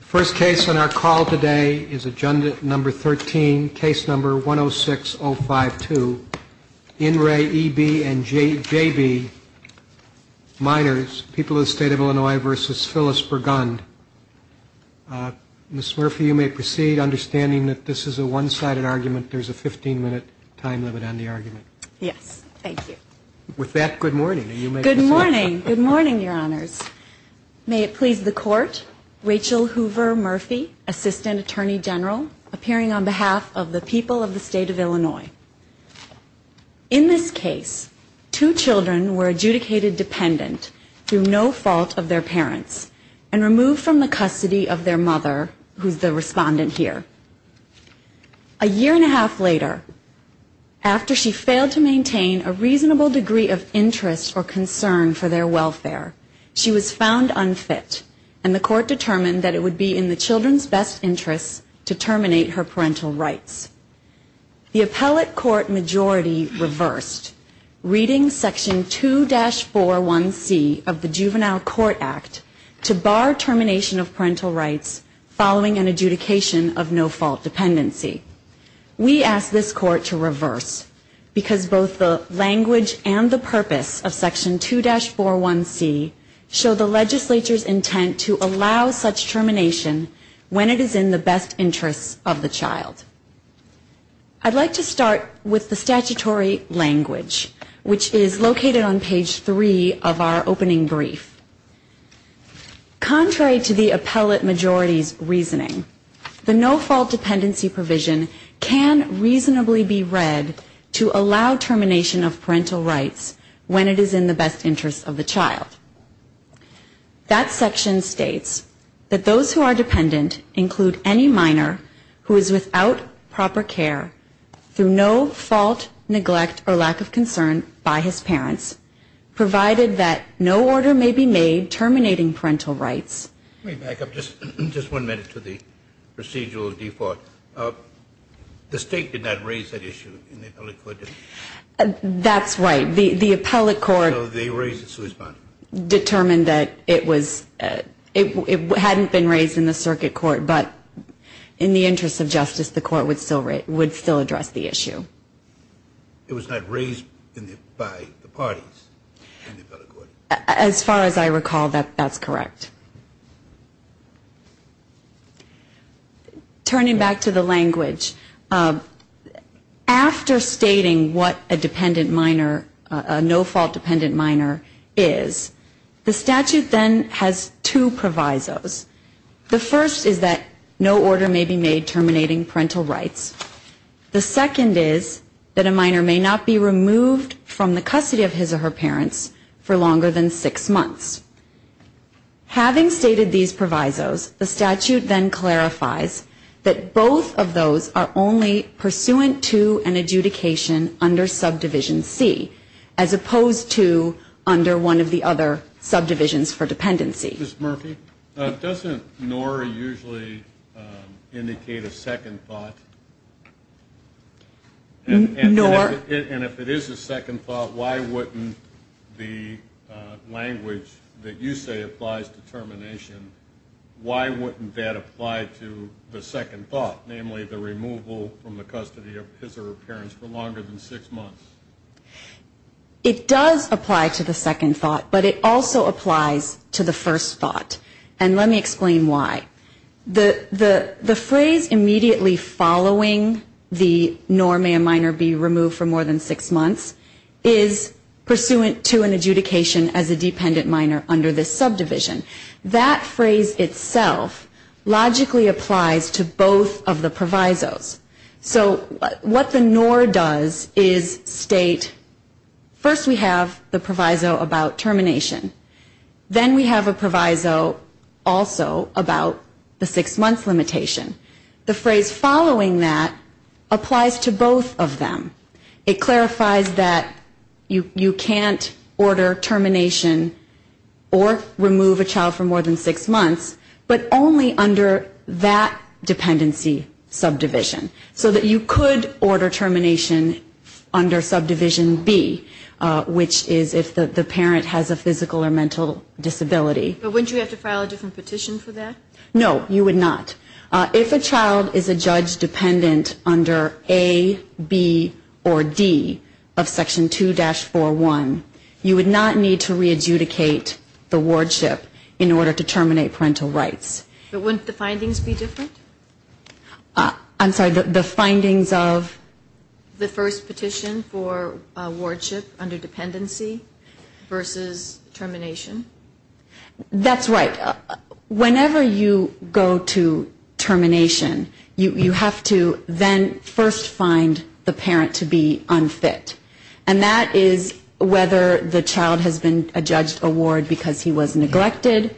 First case on our call today is agenda number 13, case number 106052. In re E.B. and J.B. minors, people of the state of Illinois versus Phyllis Burgund. Ms. Murphy, you may proceed. Understanding that this is a one-sided argument, there's a 15-minute time limit on the argument. Yes, thank you. With that, good morning, and you may proceed. Good morning. Good morning, Your Honors. May it please the Court, Rachel Hoover Murphy, Assistant Attorney General, appearing on behalf of the people of the state of Illinois. In this case, two children were adjudicated dependent through no fault of their parents and removed from the custody of their mother, who's the respondent here. A year and a half later, after she failed to maintain a reasonable degree of interest or concern for their welfare, she was found unfit, and the Court determined that it would be in the children's best interests to terminate her parental rights. The appellate court majority reversed, reading Section 2-41C of the Juvenile Court Act to bar termination of parental rights following an adjudication of no-fault dependency. We ask this Court to reverse, because both the language and the purpose of Section 2-41C show the legislature's intent to allow such termination when it is in the best interests of the child. I'd like to start with the statutory language, which is located on page 3 of our opening brief. Contrary to the appellate majority's reasoning, the no-fault dependency provision can reasonably be read to allow termination of parental rights when it is in the best interests of the child. That section states that those who are dependent include any minor who is without proper care through no fault, neglect, or lack of concern by his parents, provided that no order may be made terminating parental rights. Let me back up just one minute to the procedural default. The State did not raise that issue in the appellate court, did it? That's right. The appellate court determined that it hadn't been raised in the Circuit Court, but in the interest of justice, the Court would still address the issue. It was not raised by the parties in the appellate court? As far as I recall, that's correct. Turning back to the language, after stating what a dependent minor, a no-fault dependent minor, is, the statute then has two provisos. The first is that no order may be made terminating parental rights. The second is that a minor may not be removed from the custody of his or her parents for longer than six months. Having stated these provisos, the statute then clarifies that both of those are only pursuant to an adjudication under subdivision C, as opposed to under one of the other subdivisions for dependency. Ms. Murphy, doesn't nor usually indicate a second thought? Nor And if it is a second thought, why wouldn't the language that you say applies to termination, why wouldn't that apply to the second thought, namely the removal from the custody of his or her parents for longer than six months? It does apply to the second thought, but it also applies to the first thought. And let me explain why. The phrase immediately following the nor may a minor be removed for more than six months is pursuant to an adjudication as a dependent minor under this subdivision. That phrase itself logically applies to both of the provisos. So what the nor does is state first we have the proviso about termination, then we have a proviso also about the six-month limitation. The phrase following that applies to both of them. It clarifies that you can't order termination or remove a child for more than six months, but only under that dependency subdivision. So that you could order termination under subdivision B, which is if the parent has a physical or mental disability. But wouldn't you have to file a different petition for that? No, you would not. If a child is a judge dependent under A, B, or D of Section 2-41, you would not need to re-adjudicate the wardship in order to terminate parental rights. But wouldn't the findings be different? I'm sorry, the findings of? The first petition for wardship under dependency versus termination. That's right. Whenever you go to termination, you have to then first find the parent to be unfit. And that is whether the child has been adjudged a ward because he was neglected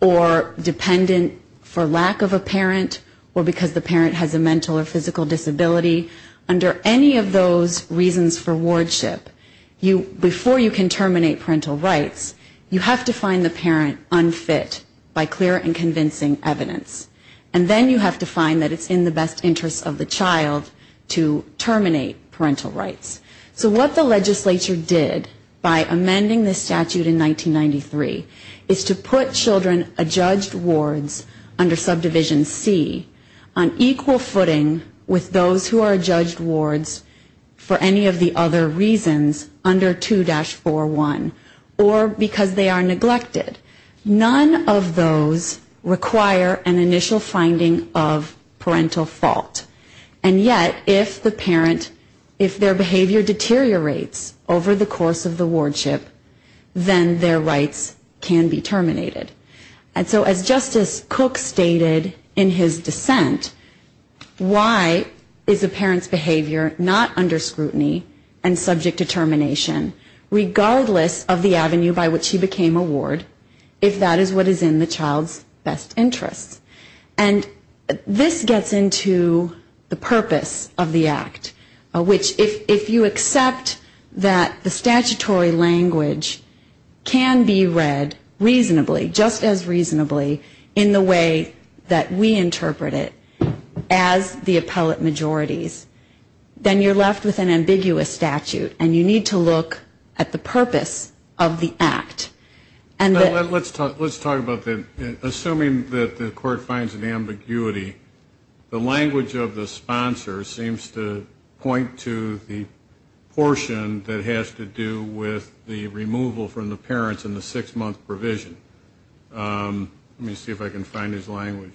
or dependent for lack of a parent or because the parent has a mental or physical disability. Under any of those reasons for wardship, before you can terminate parental rights, you have to find the parent unfit by clear and convincing evidence. And then you have to find that it's in the best interest of the child to terminate parental rights. So what the legislature did by amending this statute in 1993 is to put children adjudged wards under Subdivision C on equal footing with those who are adjudged wards for any of the other reasons under 2-41 or because they are neglected. None of those require an initial finding of parental fault. And yet if the parent, if their behavior deteriorates over the course of the wardship, then their rights can be terminated. And so as Justice Cook stated in his dissent, why is a parent's behavior not under scrutiny and subject to termination regardless of the avenue by which he became a ward if that is what is in the child's best interest? And this gets into the purpose of the act, which if you accept that the statutory language can be read reasonably, just as reasonably in the way that we interpret it as the appellate majorities, then you're left with an ambiguous statute and you need to look at the purpose of the act. Let's talk about that. Assuming that the court finds an ambiguity, the language of the sponsor seems to point to the portion that has to do with the removal from the parents in the six-month provision. Let me see if I can find his language.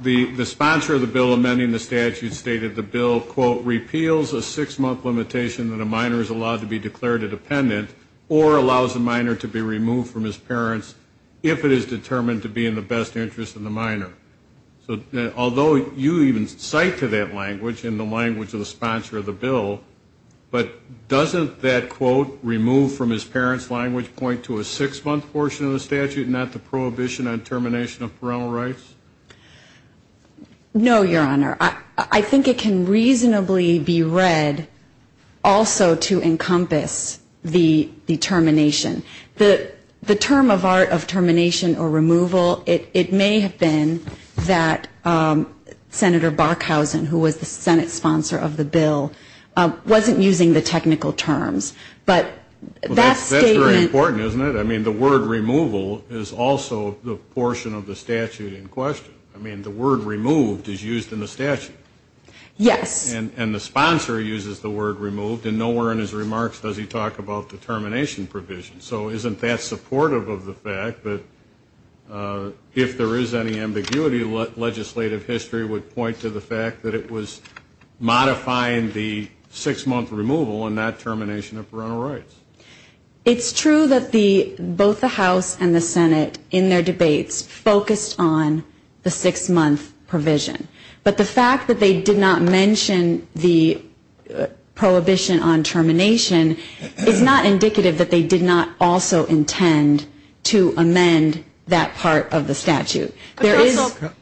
The sponsor of the bill amending the statute stated the bill, quote, or allows a minor to be removed from his parents if it is determined to be in the best interest of the minor. So although you even cite to that language in the language of the sponsor of the bill, but doesn't that quote remove from his parents' language point to a six-month portion of the statute and not the prohibition on termination of parental rights? No, Your Honor. I think it can reasonably be read also to encompass the termination. The term of art of termination or removal, it may have been that Senator Bockhausen, who was the Senate sponsor of the bill, wasn't using the technical terms. But that statement ---- Well, that's very important, isn't it? I mean, the word removal is also the portion of the statute in question. I mean, the word removed is used in the statute. Yes. And the sponsor uses the word removed, and nowhere in his remarks does he talk about the termination provision. So isn't that supportive of the fact that if there is any ambiguity, legislative history would point to the fact that it was modifying the six-month removal and not termination of parental rights? It's true that both the House and the Senate in their debates focused on the six-month provision. But the fact that they did not mention the prohibition on termination is not indicative that they did not also intend to amend that part of the statute. There is ----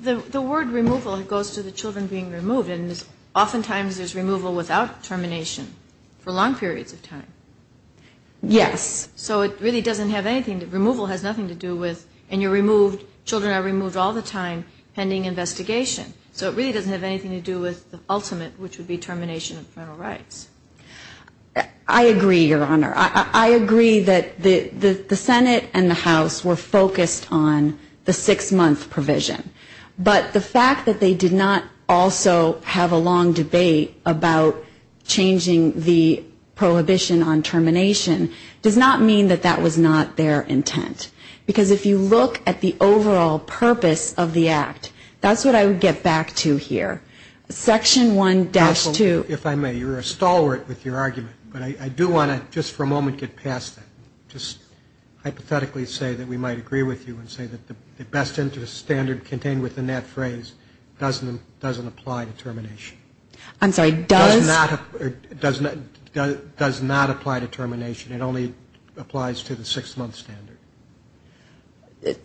The word removal goes to the children being removed, and oftentimes there's removal without termination for long periods of time. Yes. So it really doesn't have anything to ---- Removal has nothing to do with ---- And you removed ---- Children are removed all the time pending investigation. So it really doesn't have anything to do with the ultimate, which would be termination of parental rights. I agree, Your Honor. I agree that the Senate and the House were focused on the six-month provision. But the fact that they did not also have a long debate about changing the prohibition on termination does not mean that that was not their intent. Because if you look at the overall purpose of the act, that's what I would get back to here. Section 1-2 ---- Counsel, if I may, you're a stalwart with your argument. But I do want to just for a moment get past that, just hypothetically say that we might agree with you and say that the best interest standard contained within that phrase doesn't apply to termination. I'm sorry, does ---- Does not apply to termination. It only applies to the six-month standard.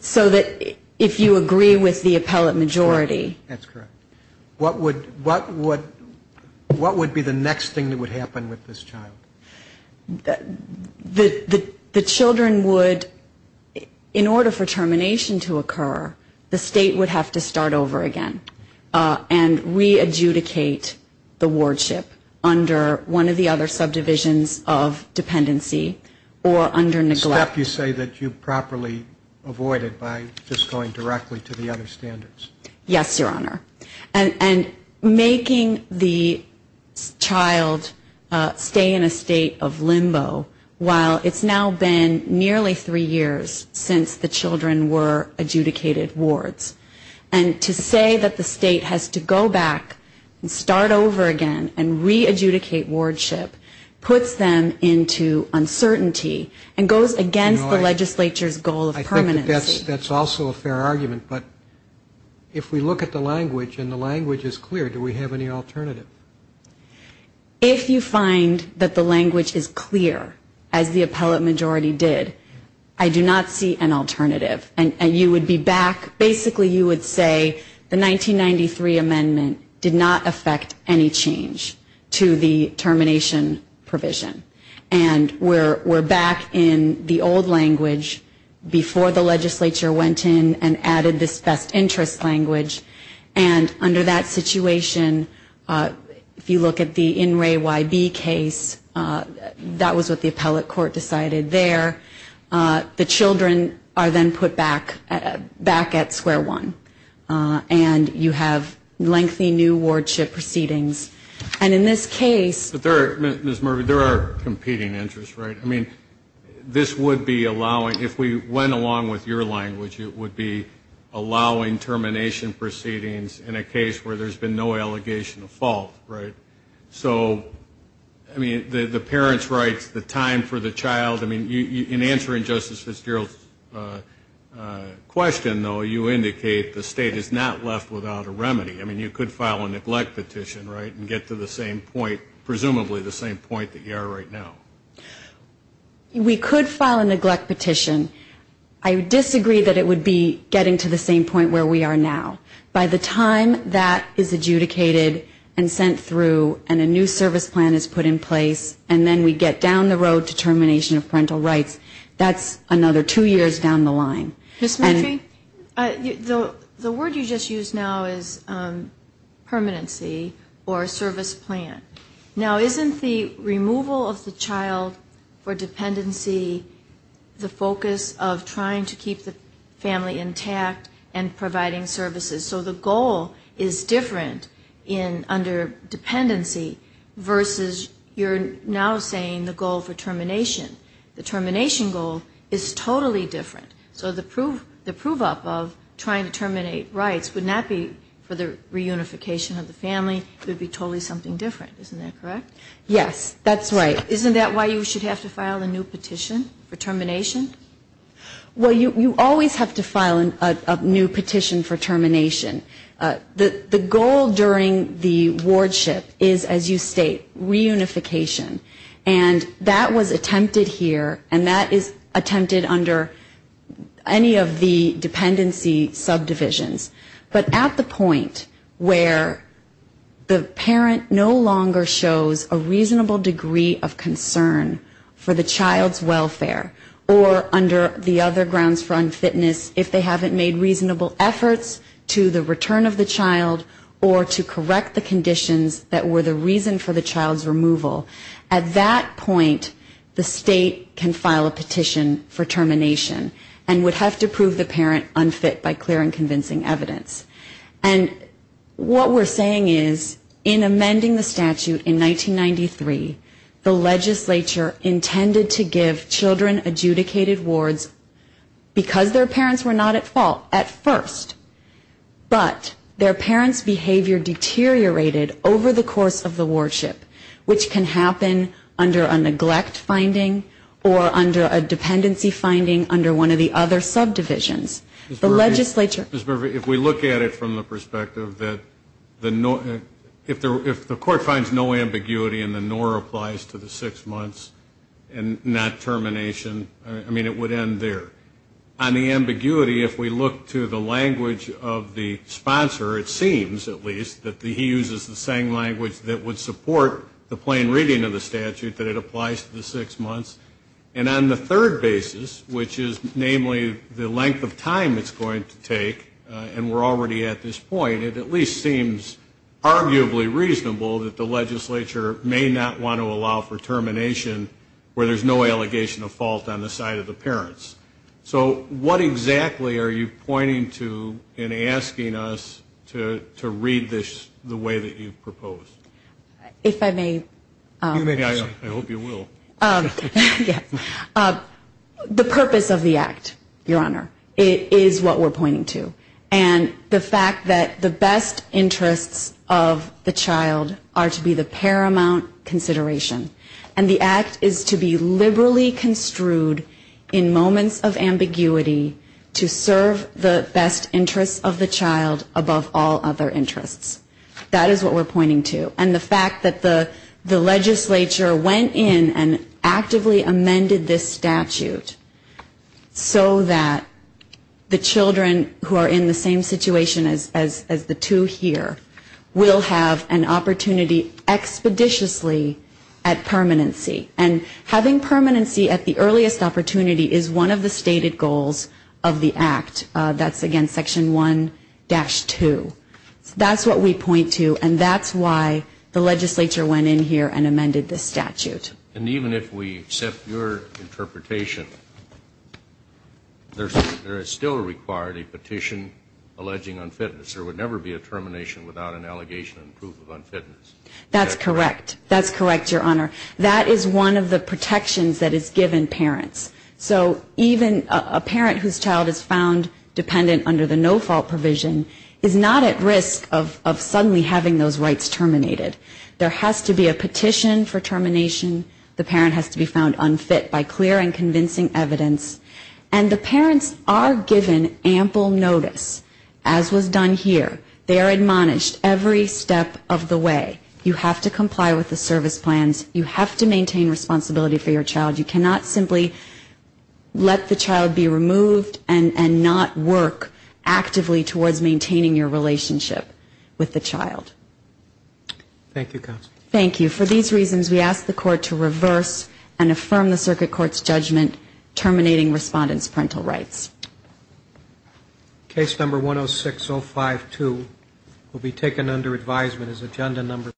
So that if you agree with the appellate majority ---- That's correct. What would be the next thing that would happen with this child? The children would, in order for termination to occur, the state would have to start over again and re-adjudicate the wardship under one of the other subdivisions of dependency or under neglect. A step you say that you properly avoided by just going directly to the other standards. Yes, Your Honor. And making the child stay in a state of limbo while it's now been nearly three years since the children were adjudicated wards. And to say that the state has to go back and start over again and re-adjudicate wardship puts them into uncertainty and goes against the legislature's goal of permanency. I think that's also a fair argument. But if we look at the language, and the language is clear, do we have any alternative? If you find that the language is clear, as the appellate majority did, I do not see an alternative. And you would be back, basically you would say, the 1993 amendment did not affect any change to the termination provision. And we're back in the old language before the legislature went in and added this best interest language. And under that situation, if you look at the In Re Y B case, that was what the appellate court decided there. The children are then put back at square one. And you have lengthy new wardship proceedings. And in this case... Ms. Murphy, there are competing interests, right? I mean, this would be allowing, if we went along with your language, it would be allowing termination proceedings in a case where there's been no allegation of fault, right? So, I mean, the parents' rights, the time for the child, I mean, in answering Justice Fitzgerald's question, though, you indicate the state is not left without a remedy. I mean, you could file a neglect petition, right, and get to the same point, presumably the same point that you are right now. We could file a neglect petition. I disagree that it would be getting to the same point where we are now. By the time that is adjudicated and sent through and a new service plan is put in place and then we get down the road to termination of parental rights, that's another two years down the line. Ms. Murphy, the word you just used now is permanency or service plan. Now, isn't the removal of the child for dependency the focus of trying to keep the family intact and providing services, so the goal is different under dependency versus you're now saying the goal for termination. The termination goal is totally different. So the prove-up of trying to terminate rights would not be for the reunification of the family. It would be totally something different. Isn't that correct? Yes, that's right. Isn't that why you should have to file a new petition for termination? Well, you always have to file a new petition for termination. The goal during the wardship is, as you state, reunification. And that was attempted here, and that is attempted under any of the dependency subdivisions. But at the point where the parent no longer shows a reasonable degree of concern for the child's welfare or under the other grounds for unfitness, if they haven't made reasonable efforts to the return of the child or to correct the conditions that were the reason for the child's removal, at that point the state can file a petition for termination and would have to prove the parent unfit by clear and convincing evidence. And what we're saying is, in amending the statute in 1993, the legislature intended to give children adjudicated wards because their parents were not at fault at first, but their parents' behavior deteriorated over the course of the wardship, which can happen under a neglect finding or under a dependency finding under one of the other subdivisions. Ms. Burvey, if we look at it from the perspective that if the court finds no ambiguity and the nor applies to the six months and not termination, I mean, it would end there. On the ambiguity, if we look to the language of the sponsor, it seems at least, that he uses the same language that would support the plain reading of the statute, that it applies to the six months. And on the third basis, which is namely the length of time it's going to take, and we're already at this point, it at least seems arguably reasonable that the legislature may not want to allow for termination where there's no allegation of fault on the side of the parents. So what exactly are you pointing to in asking us to read this the way that you've proposed? If I may. I hope you will. The purpose of the act, Your Honor, is what we're pointing to. And the fact that the best interests of the child are to be the paramount consideration. And the act is to be liberally construed in moments of ambiguity to serve the best interests of the child above all other interests. That is what we're pointing to. And the fact that the legislature went in and actively amended this statute so that the children who are in the same situation as the two here will have an opportunity expeditiously at permanency. And having permanency at the earliest opportunity is one of the stated goals of the act. That's, again, Section 1-2. That's what we point to, and that's why the legislature went in here and amended this statute. And even if we accept your interpretation, there is still required a petition alleging unfitness. There would never be a termination without an allegation and proof of unfitness. That's correct. That's correct, Your Honor. That is one of the protections that is given parents. So even a parent whose child is found dependent under the no-fault provision is not at risk of suddenly having those rights terminated. There has to be a petition for termination. The parent has to be found unfit by clear and convincing evidence. And the parents are given ample notice, as was done here. They are admonished every step of the way. You have to comply with the service plans. You have to maintain responsibility for your child. You cannot simply let the child be removed and not work actively towards maintaining your relationship with the child. Thank you, Counsel. Thank you. For these reasons, we ask the Court to reverse and affirm the Circuit Court's judgment terminating respondents' parental rights. Case number 106052 will be taken under advisement as agenda number 5.